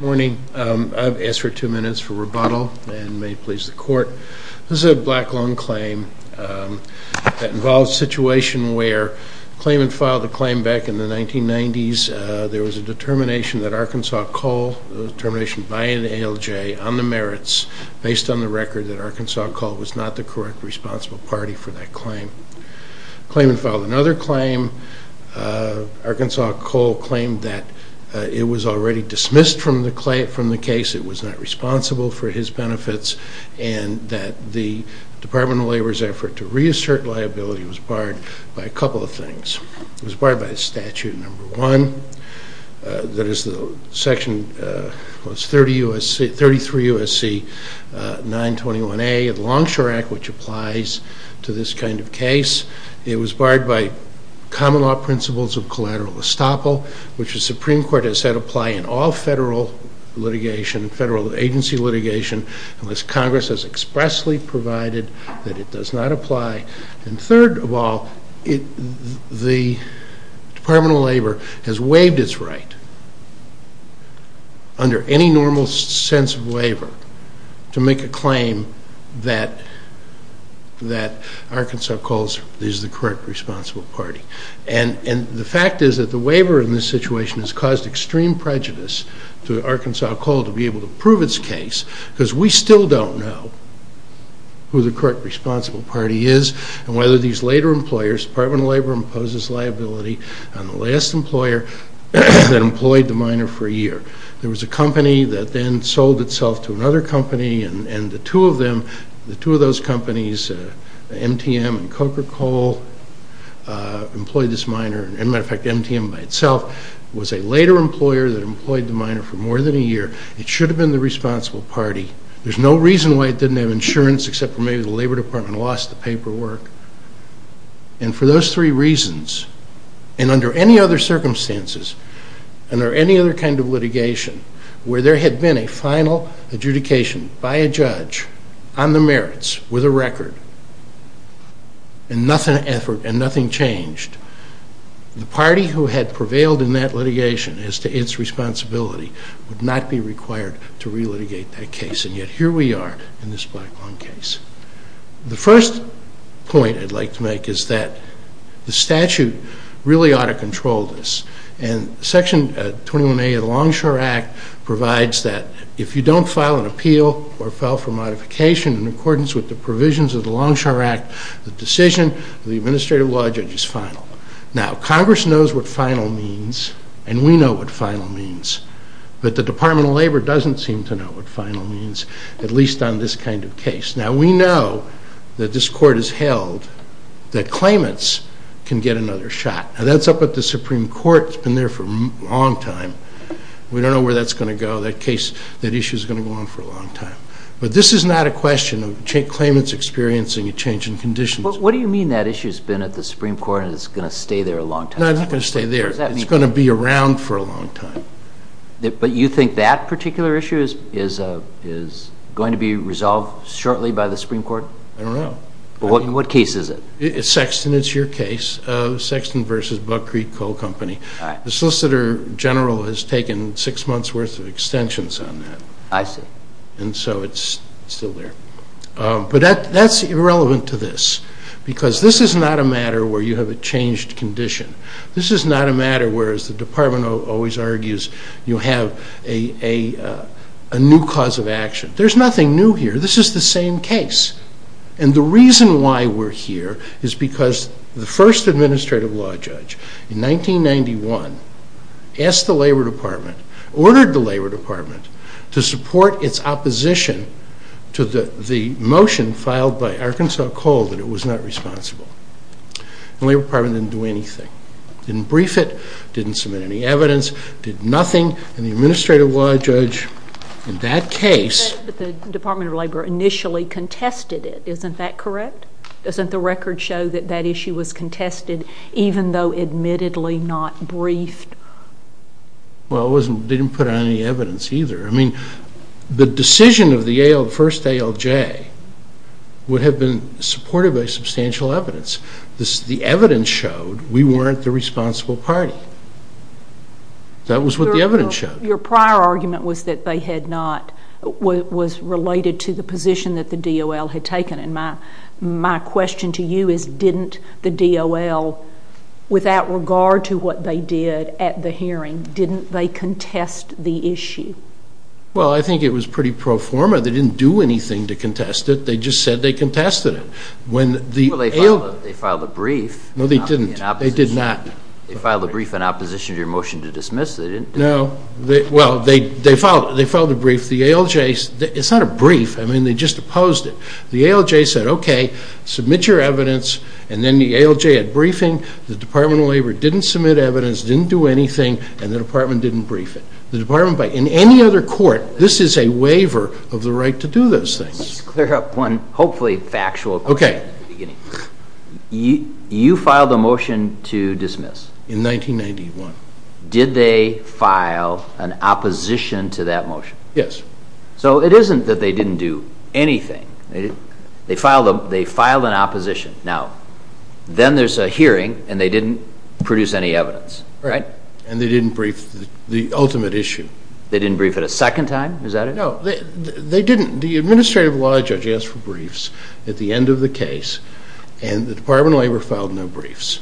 Morning. I've asked for two minutes for rebuttal and may it please the court. This is a black loan claim that involves a situation where the claimant filed the claim back in the 1990s. There was a determination that Arkansas Coal, a determination by an ALJ on the merits based on the record that Arkansas Coal was not the correct responsible party for that claim. The claimant filed another claim. Arkansas Coal claimed that it was already dismissed from the case, it was not responsible for his benefits and that the Department of Labor's effort to reassert liability was barred by a couple of things. It was barred by statute number one, that is section 33 U.S.C. 921A of the Longshore Act, which applies to this kind of case. It was barred by common law principles of collateral estoppel, which the Supreme Court has said apply in all federal litigation, federal agency litigation, unless Congress has expressly provided that it does not apply. And third of all, the Department of Labor has waived its right under any normal sense of waiver to make a claim that Arkansas Coal is the correct responsible party. And the fact is that the waiver in this situation has caused extreme prejudice to Arkansas Coal to be able to prove its case, because we still don't know who the correct responsible party is and whether these later employers, the Department of Labor imposes liability on the last employer that employed the miner for a year. There was a company that then sold itself to another company and the two of them, the two of those companies, MTM and there's no reason why it didn't have insurance except for maybe the Labor Department lost the paperwork. And for those three reasons, and under any other circumstances, under any other kind of litigation, where there had been a final adjudication by a judge on the merits with a record, and nothing changed, the party who had prevailed in that litigation as to its responsibility would not be required to re-litigate that case. And yet here we are in this Black Lung case. The first point I'd like to make is that the statute really ought to control this. And Section 21A of the Longshore Act provides that if you don't file an appeal or file for modification in accordance with the provisions of the Longshore Act, the decision of the administrative law judge is final. Now Congress knows what final means, and we know what final means, but the Department of Labor doesn't seem to know what final means, at least on this kind of case. Now we know that this court has held that claimants can get another shot. Now that's up at the Supreme Court, it's been there for a long time. We don't know where that's going to go. That issue's going to go on for a long time. But this is not a question of claimants experiencing a change in conditions. But what do you mean that issue's been at the Supreme Court and it's going to stay there a long time? No, it's not going to stay there. It's going to be around for a long time. But you think that particular issue is going to be resolved shortly by the Supreme Court? I don't know. What case is it? Sexton, it's your case. Sexton v. Buck Creek Coal Company. The Solicitor General has taken six months' worth of extensions on that. I see. And so it's still there. But that's irrelevant to this, because this is not a matter where you have a changed condition. This is not a matter where, as the Department always argues, you have a new cause of action. There's nothing new here. This is the same case. And the reason why we're here is because the first Administrative Law Judge in 1991 asked the Labor Department, ordered the Labor Department, to support its opposition to the motion filed by Arkansas Coal that it was not responsible. The Labor Department didn't do anything. Didn't brief it. Didn't submit any evidence. Did nothing. And the Administrative Law Judge in that case— But the Department of Labor initially contested it. Isn't that correct? Doesn't the record show that that issue was contested even though admittedly not briefed? Well, it didn't put out any evidence either. I mean, the decision of the first ALJ would have been supported by substantial evidence. The evidence showed we weren't the responsible party. That was what the evidence showed. Your prior argument was that they had not—was related to the position that the DOL had taken. And my question to you is, didn't the DOL, without regard to what they did at the hearing, didn't they contest the issue? Well, I think it was pretty pro forma. They didn't do anything to contest it. They just said they contested it. Well, they filed a brief. No, they didn't. They did not. They filed a brief in opposition to your motion to dismiss. They didn't do anything. No. Well, they filed a brief. The ALJ—it's not a brief. I mean, they just opposed it. The ALJ said, okay, submit your evidence, and then the ALJ had briefing. The Department of Labor didn't submit evidence, didn't do anything, and the Department didn't brief it. The Department—in any other court, this is a waiver of the right to do those things. Let's clear up one hopefully factual question at the beginning. Okay. You filed a motion to dismiss. In 1991. Did they file an opposition to that motion? Yes. So it isn't that they didn't do anything. They filed an opposition. Now, then there's a hearing, and they didn't produce any evidence, right? And they didn't brief the ultimate issue. They didn't brief it a second time? Is that it? No. They didn't. The Administrative Law Judge asked for briefs at the end of the case, and the Department of Labor filed no briefs.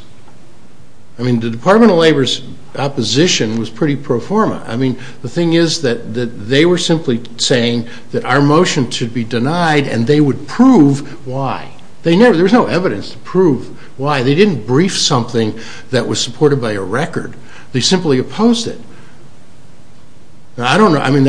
I mean, the Department of Labor's opposition was pretty pro forma. I mean, the thing is that they were simply saying that our motion should be denied, and they would prove why. They never—there was no evidence to prove why. They didn't brief something that was supported by a record. They simply opposed it. I don't know. I mean,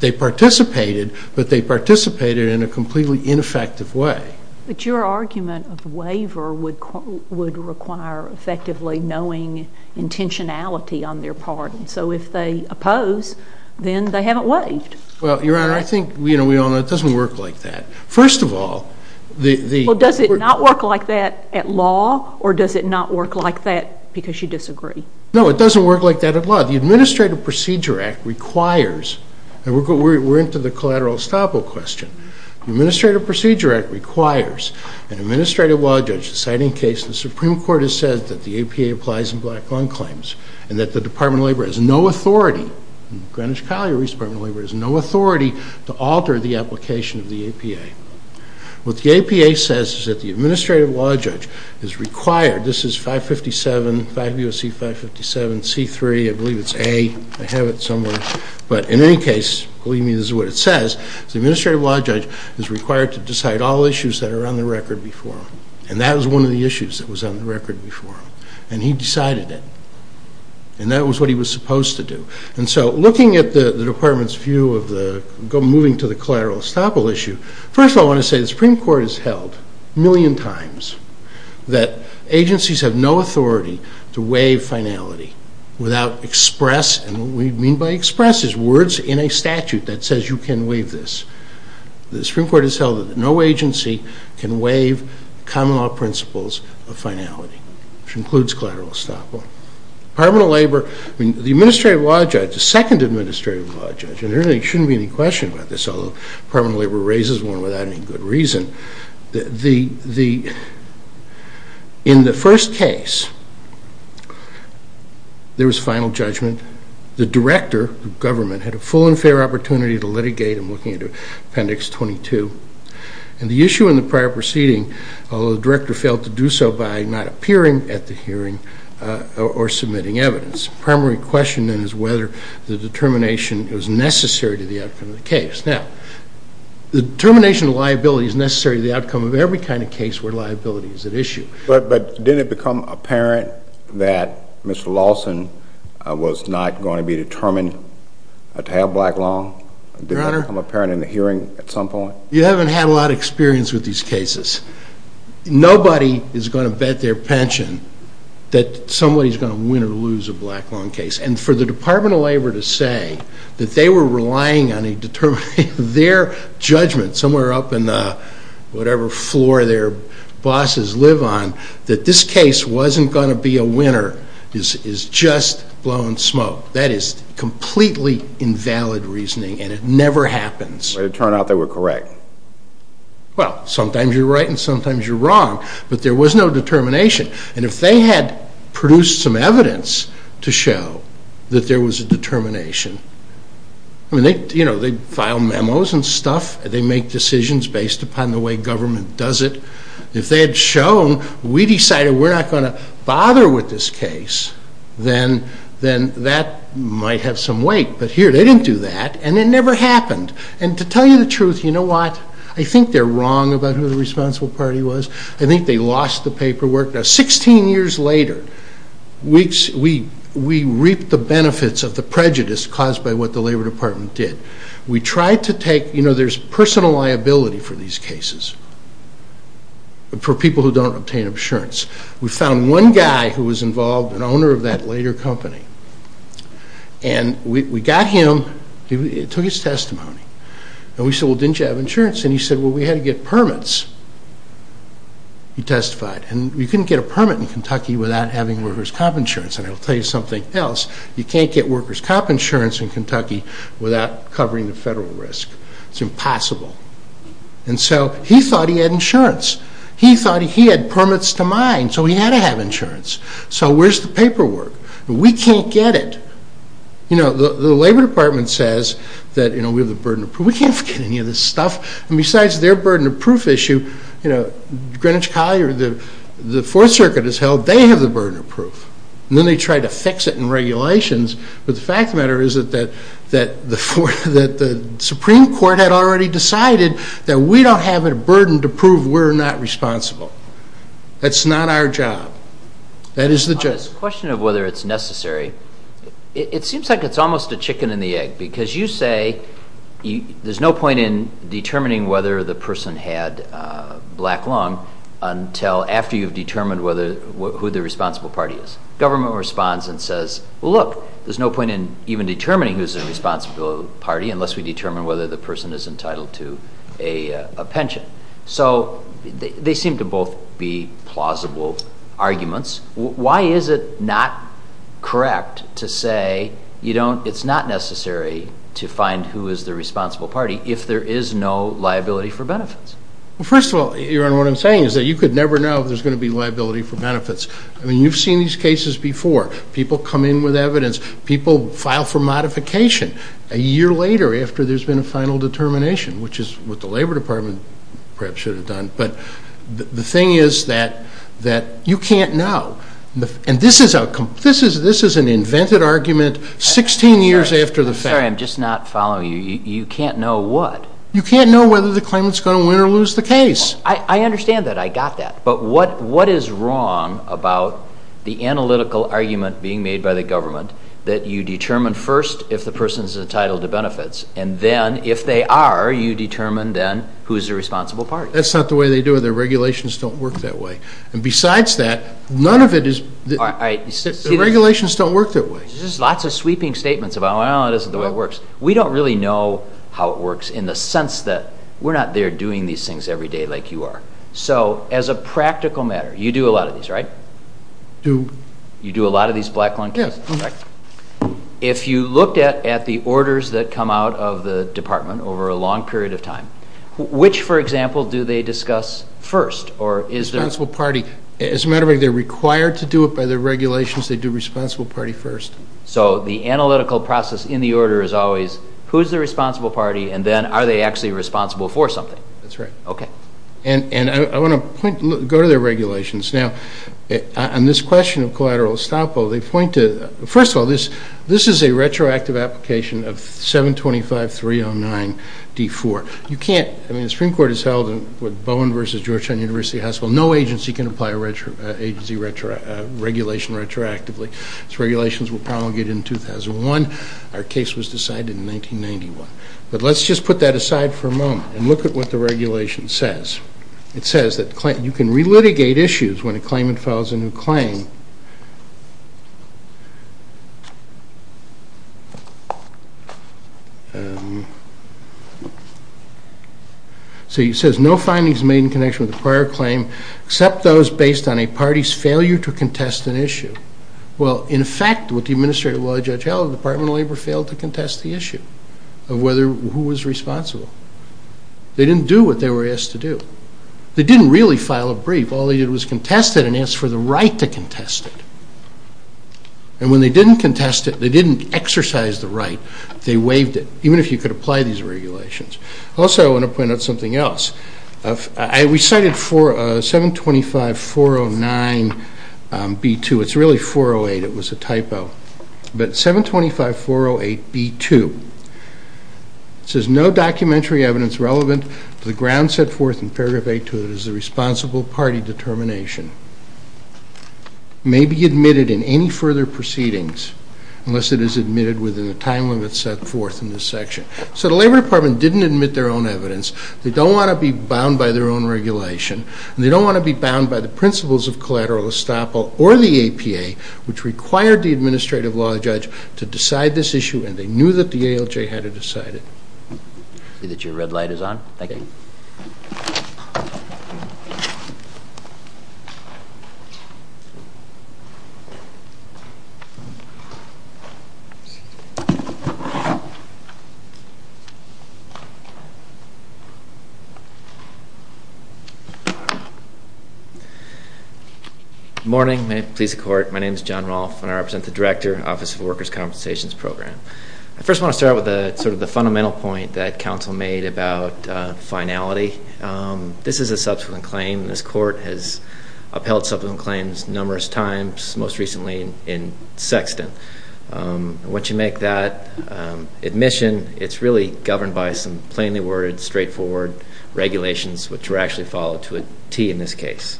they participated, but they participated in a completely ineffective way. But your argument of waiver would require effectively knowing intentionality on their part. So if they oppose, then they haven't waived. Well, Your Honor, I think we all know it doesn't work like that. First of all, the— Well, does it not work like that at law, or does it not work like that because you disagree? No, it doesn't work like that at law. The Administrative Procedure Act requires—and we're into the collateral estoppel question. The Administrative Procedure Act requires an Administrative Law Judge deciding a case. The Supreme Court has said that the APA applies in black-lung claims and that the Department of Labor has no authority—the Greenwich-Colliery Department of Labor has no authority— to alter the application of the APA. What the APA says is that the Administrative Law Judge is required— this is 557, 5 U.S.C. 557, C3, I believe it's A. I have it somewhere. But in any case, believe me, this is what it says. The Administrative Law Judge is required to decide all issues that are on the record before him. And that was one of the issues that was on the record before him. And he decided it. And that was what he was supposed to do. And so looking at the Department's view of moving to the collateral estoppel issue, first of all, I want to say the Supreme Court has held a million times that agencies have no authority to waive finality without express— and what we mean by express is words in a statute that says you can waive this. The Supreme Court has held that no agency can waive common law principles of finality, which includes collateral estoppel. The Administrative Law Judge, the second Administrative Law Judge, and there really shouldn't be any question about this, although the Department of Labor raises one without any good reason, in the first case there was final judgment. The director of government had a full and fair opportunity to litigate. I'm looking at Appendix 22. And the issue in the prior proceeding, although the director failed to do so by not appearing at the hearing or submitting evidence. The primary question then is whether the determination was necessary to the outcome of the case. Now, the determination of liability is necessary to the outcome of every kind of case where liability is at issue. But didn't it become apparent that Mr. Lawson was not going to be determined to have a black loan? Your Honor? Didn't it become apparent in the hearing at some point? You haven't had a lot of experience with these cases. Nobody is going to bet their pension that somebody is going to win or lose a black loan case. And for the Department of Labor to say that they were relying on their judgment, somewhere up in whatever floor their bosses live on, that this case wasn't going to be a winner is just blowing smoke. That is completely invalid reasoning, and it never happens. But it turned out they were correct. Well, sometimes you're right and sometimes you're wrong, but there was no determination. And if they had produced some evidence to show that there was a determination, you know, they file memos and stuff. They make decisions based upon the way government does it. If they had shown, we decided we're not going to bother with this case, then that might have some weight. But here, they didn't do that, and it never happened. And to tell you the truth, you know what? I think they're wrong about who the responsible party was. I think they lost the paperwork. Now, 16 years later, we reaped the benefits of the prejudice caused by what the Labor Department did. We tried to take, you know, there's personal liability for these cases, for people who don't obtain insurance. We found one guy who was involved, an owner of that later company, and we got him, he took his testimony, and we said, well, didn't you have insurance? And he said, well, we had to get permits. He testified. And you couldn't get a permit in Kentucky without having workers' comp insurance. And I'll tell you something else. You can't get workers' comp insurance in Kentucky without covering the federal risk. It's impossible. And so he thought he had insurance. He thought he had permits to mine, so he had to have insurance. So where's the paperwork? We can't get it. You know, the Labor Department says that, you know, we have the burden of proof. We can't get any of this stuff. And besides their burden of proof issue, you know, Greenwich Collier, the Fourth Circuit has held, they have the burden of proof. And then they try to fix it in regulations. But the fact of the matter is that the Supreme Court had already decided that we don't have a burden to prove we're not responsible. That's not our job. That is the job. On this question of whether it's necessary, it seems like it's almost a chicken and the egg because you say there's no point in determining whether the person had black lung until after you've determined who the responsible party is. Government responds and says, well, look, there's no point in even determining who's the responsible party unless we determine whether the person is entitled to a pension. So they seem to both be plausible arguments. Why is it not correct to say it's not necessary to find who is the responsible party if there is no liability for benefits? Well, first of all, Your Honor, what I'm saying is that you could never know if there's going to be liability for benefits. I mean, you've seen these cases before. People come in with evidence. People file for modification a year later after there's been a final determination, which is what the Labor Department perhaps should have done. But the thing is that you can't know. And this is an invented argument 16 years after the fact. I'm sorry. I'm just not following you. You can't know what? You can't know whether the claimant is going to win or lose the case. I understand that. I got that. But what is wrong about the analytical argument being made by the government that you determine first if the person is entitled to benefits, and then if they are, you determine then who is the responsible party? That's not the way they do it. Their regulations don't work that way. And besides that, none of it is... All right. The regulations don't work that way. There's just lots of sweeping statements about, well, it isn't the way it works. We don't really know how it works in the sense that we're not there doing these things every day like you are. So as a practical matter, you do a lot of these, right? Do... You do a lot of these black lung cases. Yes. If you looked at the orders that come out of the department over a long period of time, which, for example, do they discuss first? Responsible party. As a matter of fact, they're required to do it by their regulations. They do responsible party first. So the analytical process in the order is always who is the responsible party, and then are they actually responsible for something? That's right. Okay. And I want to go to their regulations. Now, on this question of collateral estoppel, they point to... First of all, this is a retroactive application of 725.309.D4. You can't... I mean, the Supreme Court has held with Bowen v. Georgetown University Hospital, no agency can apply a agency regulation retroactively. These regulations were promulgated in 2001. Our case was decided in 1991. But let's just put that aside for a moment and look at what the regulation says. It says that you can relitigate issues when a claimant files a new claim. So it says, no findings made in connection with the prior claim, except those based on a party's failure to contest an issue. Well, in effect, with the administrative law of Judge Howell, the Department of Labor failed to contest the issue of who was responsible. They didn't do what they were asked to do. They didn't really file a brief. All they did was contest it and ask for the right to contest it. And when they didn't contest it, they didn't exercise the right. They waived it, even if you could apply these regulations. Also, I want to point out something else. We cited 725.409.B2. It's really 408. It was a typo. But 725.408.B2. It says, no documentary evidence relevant to the ground set forth in Paragraph 8.2 that is the responsible party determination may be admitted in any further proceedings unless it is admitted within the time limit set forth in this section. So the Labor Department didn't admit their own evidence. They don't want to be bound by their own regulation. They don't want to be bound by the principles of collateral estoppel or the APA, which required the administrative law judge to decide this issue, and they knew that the ALJ had it decided. I see that your red light is on. Thank you. Good morning. May it please the Court, my name is John Rolfe, and I represent the Director, Office of Workers' Compensations Program. I first want to start with sort of the fundamental point that counsel made about finality. This is a subsequent claim, and this Court has upheld subsequent claims numerous times, most recently in Sexton. Once you make that admission, it's really governed by some plainly worded, straightforward regulations, which were actually followed to a T in this case.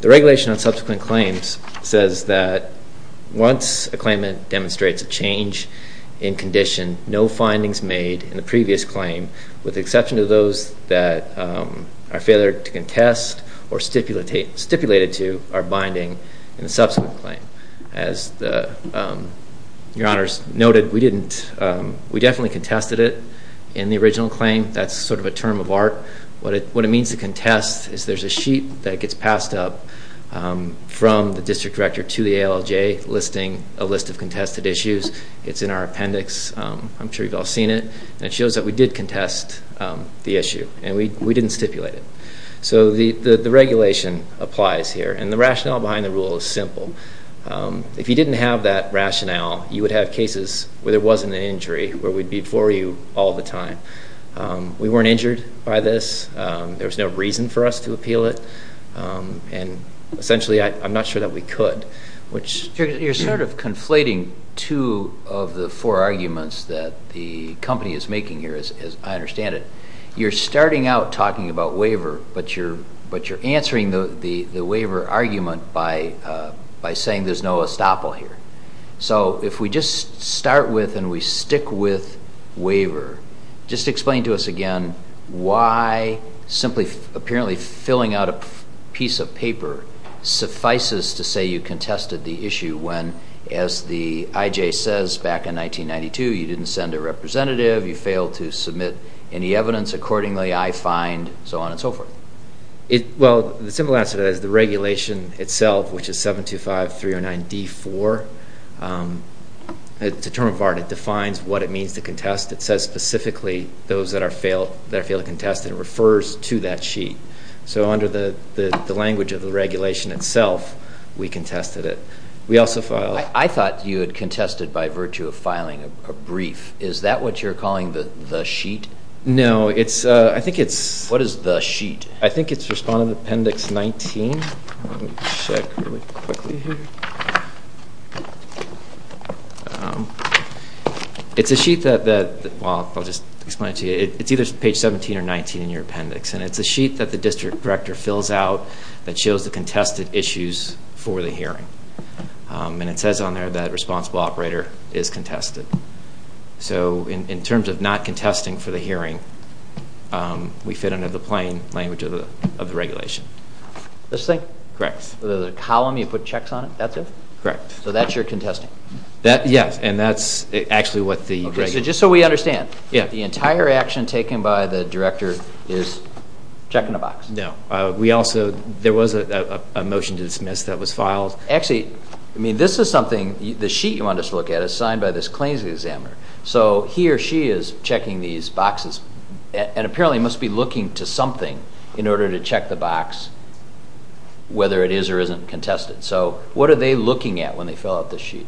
The regulation on subsequent claims says that once a claimant demonstrates a change in condition, no findings made in the previous claim with exception to those that are failure to contest or stipulated to are binding in the subsequent claim. As your Honors noted, we definitely contested it in the original claim. That's sort of a term of art. What it means to contest is there's a sheet that gets passed up from the District Director to the ALJ listing a list of contested issues. It's in our appendix. I'm sure you've all seen it. It shows that we did contest the issue, and we didn't stipulate it. So the regulation applies here, and the rationale behind the rule is simple. If you didn't have that rationale, you would have cases where there wasn't an injury, where we'd be before you all the time. We weren't injured by this. There was no reason for us to appeal it. Essentially, I'm not sure that we could. You're sort of conflating two of the four arguments that the company is making here, as I understand it. You're starting out talking about waiver, but you're answering the waiver argument by saying there's no estoppel here. So if we just start with and we stick with waiver, just explain to us again why simply apparently filling out a piece of paper suffices to say you contested the issue when, as the IJ says back in 1992, you didn't send a representative, you failed to submit any evidence accordingly, I find, so on and so forth. Well, the simple answer to that is the regulation itself, which is 725309D4, it's a term of art. It defines what it means to contest. It says specifically those that are failed to contest, and it refers to that sheet. So under the language of the regulation itself, we contested it. I thought you had contested by virtue of filing a brief. Is that what you're calling the sheet? No. What is the sheet? I think it's Respondent Appendix 19. Let me check really quickly here. It's a sheet that, well, I'll just explain it to you. It's either page 17 or 19 in your appendix, and it's a sheet that the district director fills out that shows the contested issues for the hearing, and it says on there that responsible operator is contested. So in terms of not contesting for the hearing, we fit under the plain language of the regulation. This thing? Correct. The column you put checks on it, that's it? Correct. So that's your contesting? Yes, and that's actually what the regulation is. Okay, so just so we understand, the entire action taken by the director is check in a box? No. We also, there was a motion to dismiss that was filed. Actually, I mean, this is something, the sheet you wanted us to look at is signed by this claims examiner. So he or she is checking these boxes and apparently must be looking to something in order to check the box, whether it is or isn't contested. So what are they looking at when they fill out this sheet?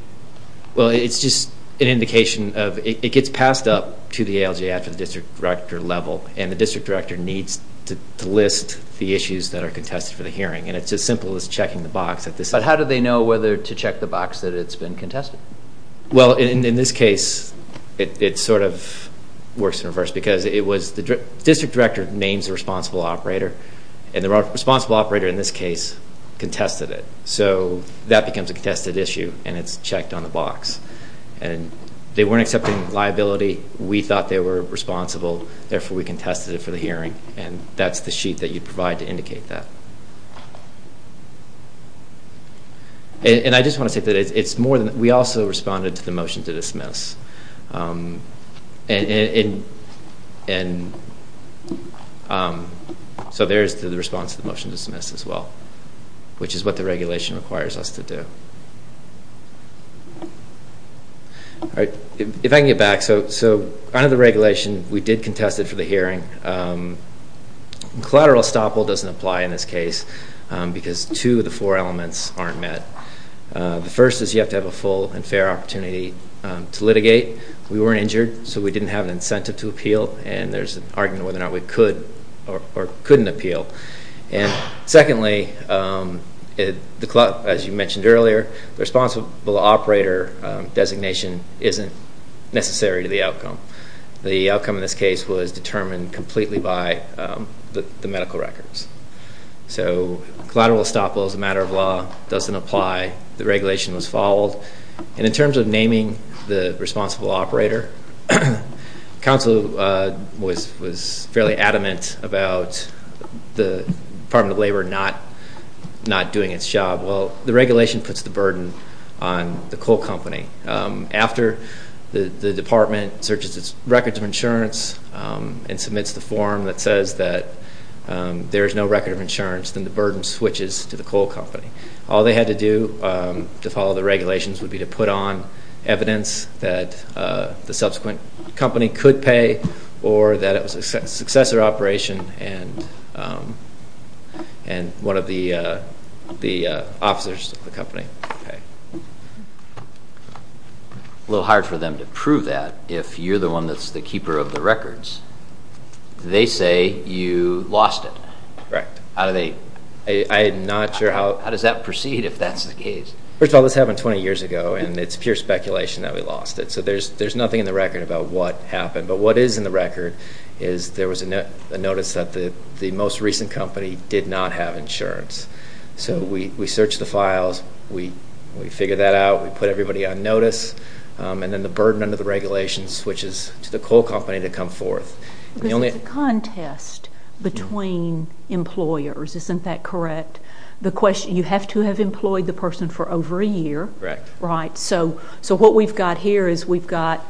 Well, it's just an indication of it gets passed up to the ALJ after the district director level, and the district director needs to list the issues that are contested for the hearing, and it's as simple as checking the box. But how do they know whether to check the box that it's been contested? Well, in this case, it sort of works in reverse because it was the district director names the responsible operator, and the responsible operator in this case contested it. So that becomes a contested issue, and it's checked on the box. And they weren't accepting liability. We thought they were responsible, therefore we contested it for the hearing, and that's the sheet that you provide to indicate that. And I just want to say that it's more than that. We also responded to the motion to dismiss. So there's the response to the motion to dismiss as well, which is what the regulation requires us to do. All right, if I can get back. So under the regulation, we did contest it for the hearing. Collateral estoppel doesn't apply in this case because two of the four elements aren't met. The first is you have to have a full and fair opportunity to litigate. We weren't injured, so we didn't have an incentive to appeal, and there's an argument whether or not we could or couldn't appeal. Secondly, as you mentioned earlier, the responsible operator designation isn't necessary to the outcome. The outcome in this case was determined completely by the medical records. So collateral estoppel as a matter of law doesn't apply. The regulation was followed. And in terms of naming the responsible operator, counsel was fairly adamant about the Department of Labor not doing its job. Well, the regulation puts the burden on the coal company. After the department searches its records of insurance and submits the form that says that there is no record of insurance, then the burden switches to the coal company. All they had to do to follow the regulations would be to put on evidence that the subsequent company could pay or that it was a successor operation and one of the officers of the company could pay. A little hard for them to prove that if you're the one that's the keeper of the records. They say you lost it. Correct. I'm not sure how... How does that proceed if that's the case? First of all, this happened 20 years ago, and it's pure speculation that we lost it. So there's nothing in the record about what happened. But what is in the record is there was a notice that the most recent company did not have insurance. So we searched the files. We figured that out. We put everybody on notice. And then the burden under the regulations switches to the coal company to come forth. This is a contest between employers. Isn't that correct? You have to have employed the person for over a year. Correct. Right. So what we've got here is we've got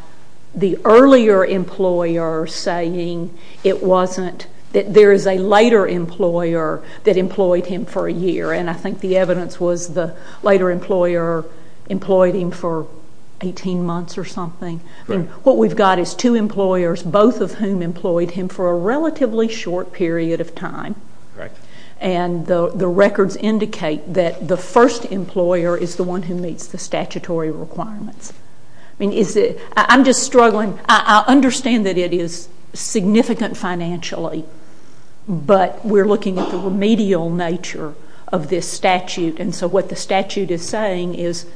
the earlier employer saying there is a later employer that employed him for a year. And I think the evidence was the later employer employed him for 18 months or something. Right. And what we've got is two employers, both of whom employed him for a relatively short period of time. Correct. And the records indicate that the first employer is the one who meets the statutory requirements. I'm just struggling. I understand that it is significant financially, but we're looking at the remedial nature of this statute. And so what the statute is saying is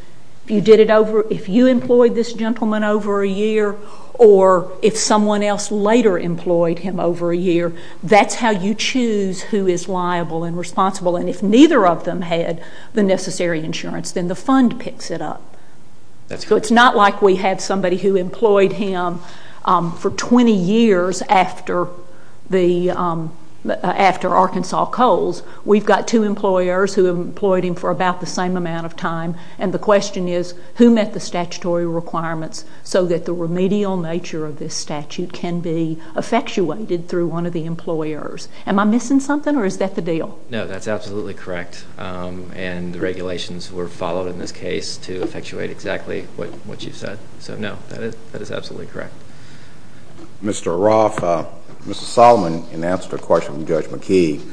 if you employed this gentleman over a year or if someone else later employed him over a year, that's how you choose who is liable and responsible. And if neither of them had the necessary insurance, then the fund picks it up. So it's not like we had somebody who employed him for 20 years after Arkansas Coals. We've got two employers who employed him for about the same amount of time. And the question is who met the statutory requirements so that the remedial nature of this statute can be effectuated through one of the employers. Am I missing something or is that the deal? No, that's absolutely correct. And the regulations were followed in this case to effectuate exactly what you said. So, no, that is absolutely correct. Mr. Roth, Mr. Solomon, in answer to a question from Judge McKee,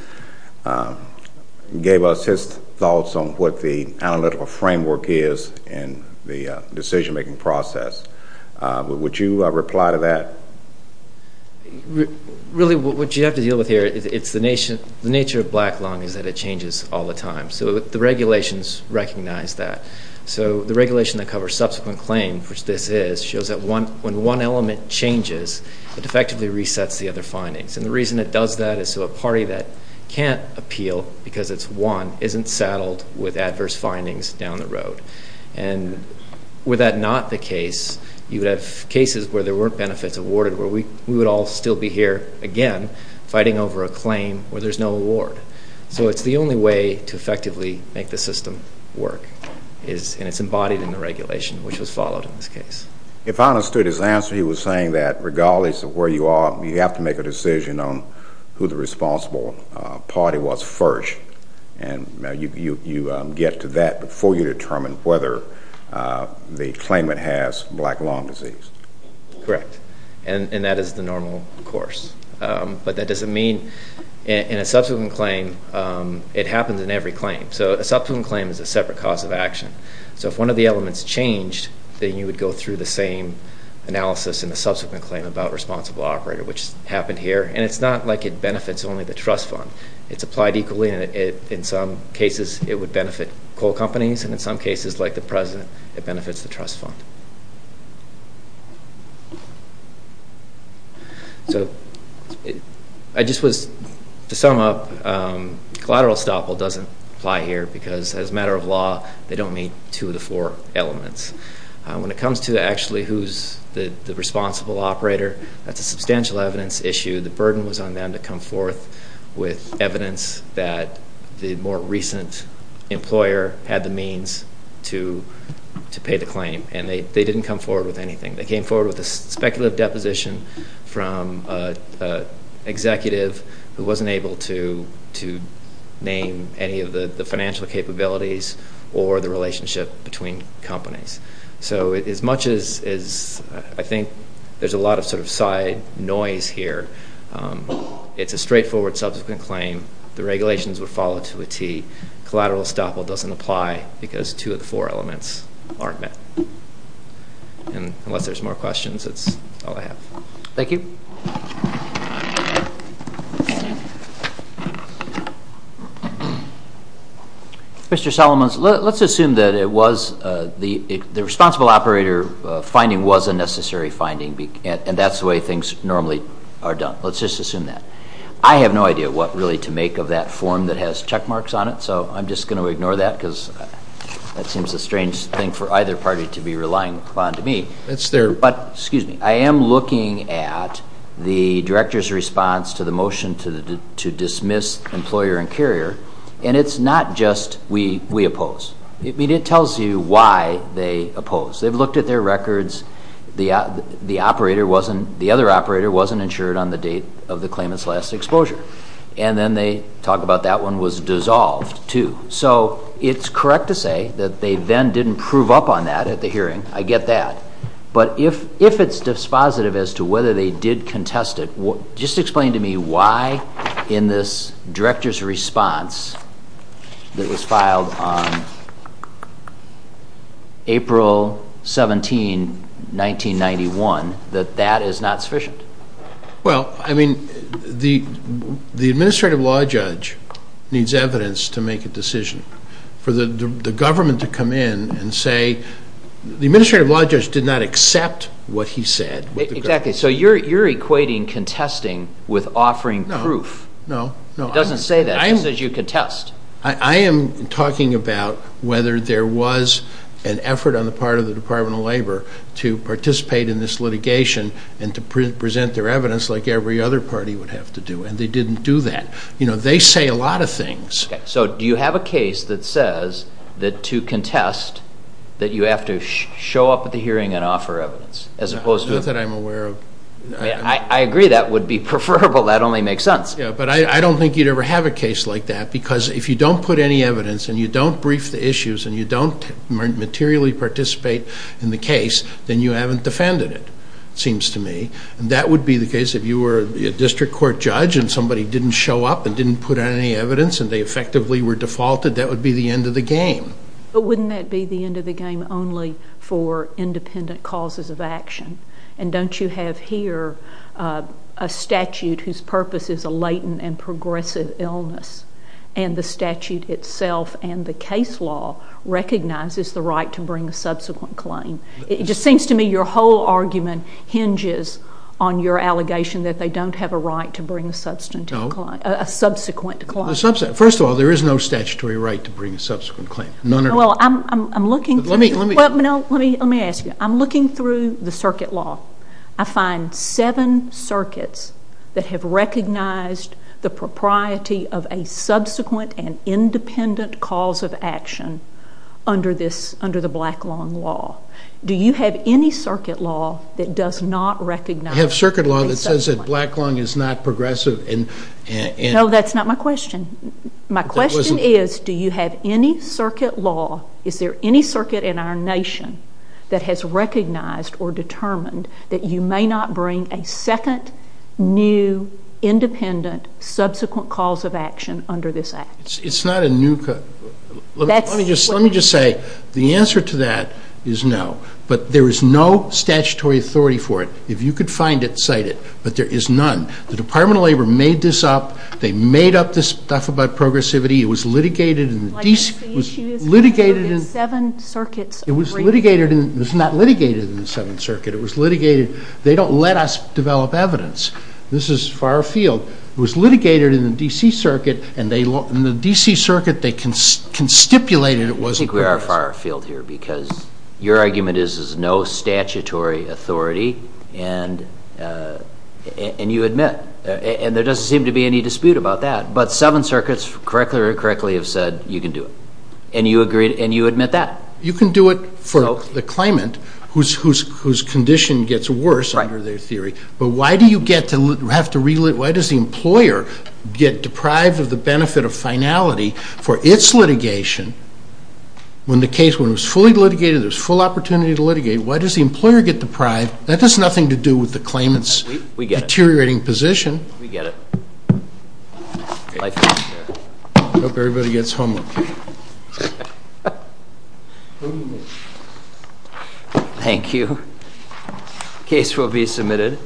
gave us his thoughts on what the analytical framework is in the decision-making process. Would you reply to that? Really, what you have to deal with here, it's the nature of black lung is that it changes all the time. So the regulations recognize that. So the regulation that covers subsequent claim, which this is, shows that when one element changes, it effectively resets the other findings. And the reason it does that is so a party that can't appeal because it's won isn't saddled with adverse findings down the road. And were that not the case, you would have cases where there weren't benefits awarded, where we would all still be here, again, fighting over a claim where there's no award. So it's the only way to effectively make the system work. And it's embodied in the regulation, which was followed in this case. If I understood his answer, he was saying that regardless of where you are, you have to make a decision on who the responsible party was first. And you get to that before you determine whether the claimant has black lung disease. Correct. And that is the normal course. But that doesn't mean in a subsequent claim, it happens in every claim. So a subsequent claim is a separate cause of action. So if one of the elements changed, then you would go through the same analysis in a subsequent claim about responsible operator, which happened here. And it's not like it benefits only the trust fund. It's applied equally. In some cases, it would benefit coal companies. And in some cases, like the president, it benefits the trust fund. So I just was to sum up, collateral estoppel doesn't apply here because as a matter of law, they don't meet two of the four elements. When it comes to actually who's the responsible operator, that's a substantial evidence issue. The burden was on them to come forth with evidence that the more recent employer had the means to pay the claim. And they didn't come forward with anything. They came forward with a speculative deposition from an executive who wasn't able to name any of the financial capabilities or the relationship between companies. So as much as I think there's a lot of sort of side noise here, it's a straightforward subsequent claim. The regulations would follow to a T. Collateral estoppel doesn't apply because two of the four elements aren't met. And unless there's more questions, that's all I have. Thank you. Mr. Solomons, let's assume that it was the responsible operator finding was a necessary finding, and that's the way things normally are done. Let's just assume that. I have no idea what really to make of that form that has check marks on it, so I'm just going to ignore that because that seems a strange thing for either party to be relying upon to me. Excuse me. I am looking at the director's response to the motion to dismiss employer and carrier, and it's not just we oppose. It tells you why they oppose. They've looked at their records. The other operator wasn't insured on the date of the claimant's last exposure. And then they talk about that one was dissolved, too. So it's correct to say that they then didn't prove up on that at the hearing. I get that. But if it's dispositive as to whether they did contest it, just explain to me why in this director's response that was filed on April 17, 1991, that that is not sufficient. Well, I mean, the administrative law judge needs evidence to make a decision. For the government to come in and say the administrative law judge did not accept what he said. Exactly. So you're equating contesting with offering proof. No, no. It doesn't say that. It says you contest. I am talking about whether there was an effort on the part of the Department of Labor to participate in this litigation and to present their evidence like every other party would have to do, and they didn't do that. You know, they say a lot of things. Okay. So do you have a case that says that to contest that you have to show up at the hearing and offer evidence as opposed to… Not that I'm aware of. I agree that would be preferable. That only makes sense. Yeah. But I don't think you'd ever have a case like that because if you don't put any evidence and you don't brief the issues and you don't materially participate in the case, then you haven't defended it, it seems to me. And that would be the case if you were a district court judge and somebody didn't show up and didn't put any evidence and they effectively were defaulted, that would be the end of the game. But wouldn't that be the end of the game only for independent causes of action? And don't you have here a statute whose purpose is a latent and progressive illness, and the statute itself and the case law recognizes the right to bring a subsequent claim? It just seems to me your whole argument hinges on your allegation that they don't have a right to bring a subsequent claim. First of all, there is no statutory right to bring a subsequent claim. None at all. Well, I'm looking… Let me ask you. I'm looking through the circuit law. I find seven circuits that have recognized the propriety of a subsequent and independent cause of action under the Black Lung Law. Do you have any circuit law that does not recognize… I have circuit law that says that Black Lung is not progressive and… My question is, do you have any circuit law, is there any circuit in our nation that has recognized or determined that you may not bring a second, new, independent, subsequent cause of action under this Act? It's not a new… Let me just say, the answer to that is no, but there is no statutory authority for it. If you could find it, cite it, but there is none. The Department of Labor made this up. They made up this stuff about progressivity. It was litigated in the… Like, the issue is concluded in seven circuits… It was litigated in… It was not litigated in the seventh circuit. It was litigated… They don't let us develop evidence. This is far afield. It was litigated in the D.C. circuit, and they… In the D.C. circuit, they constipulated it wasn't… I think we are far afield here because your argument is there's no statutory authority, and you admit, and there doesn't seem to be any dispute about that, but seven circuits correctly or incorrectly have said you can do it, and you admit that. You can do it for the claimant whose condition gets worse under their theory, but why do you get to have to… Why does the employer get deprived of the benefit of finality for its litigation when the case, when it was fully litigated, there was full opportunity to litigate? Why does the employer get deprived? That has nothing to do with the claimant's deteriorating position. We get it. We get it. I hope everybody gets home okay. Thank you. Case will be submitted.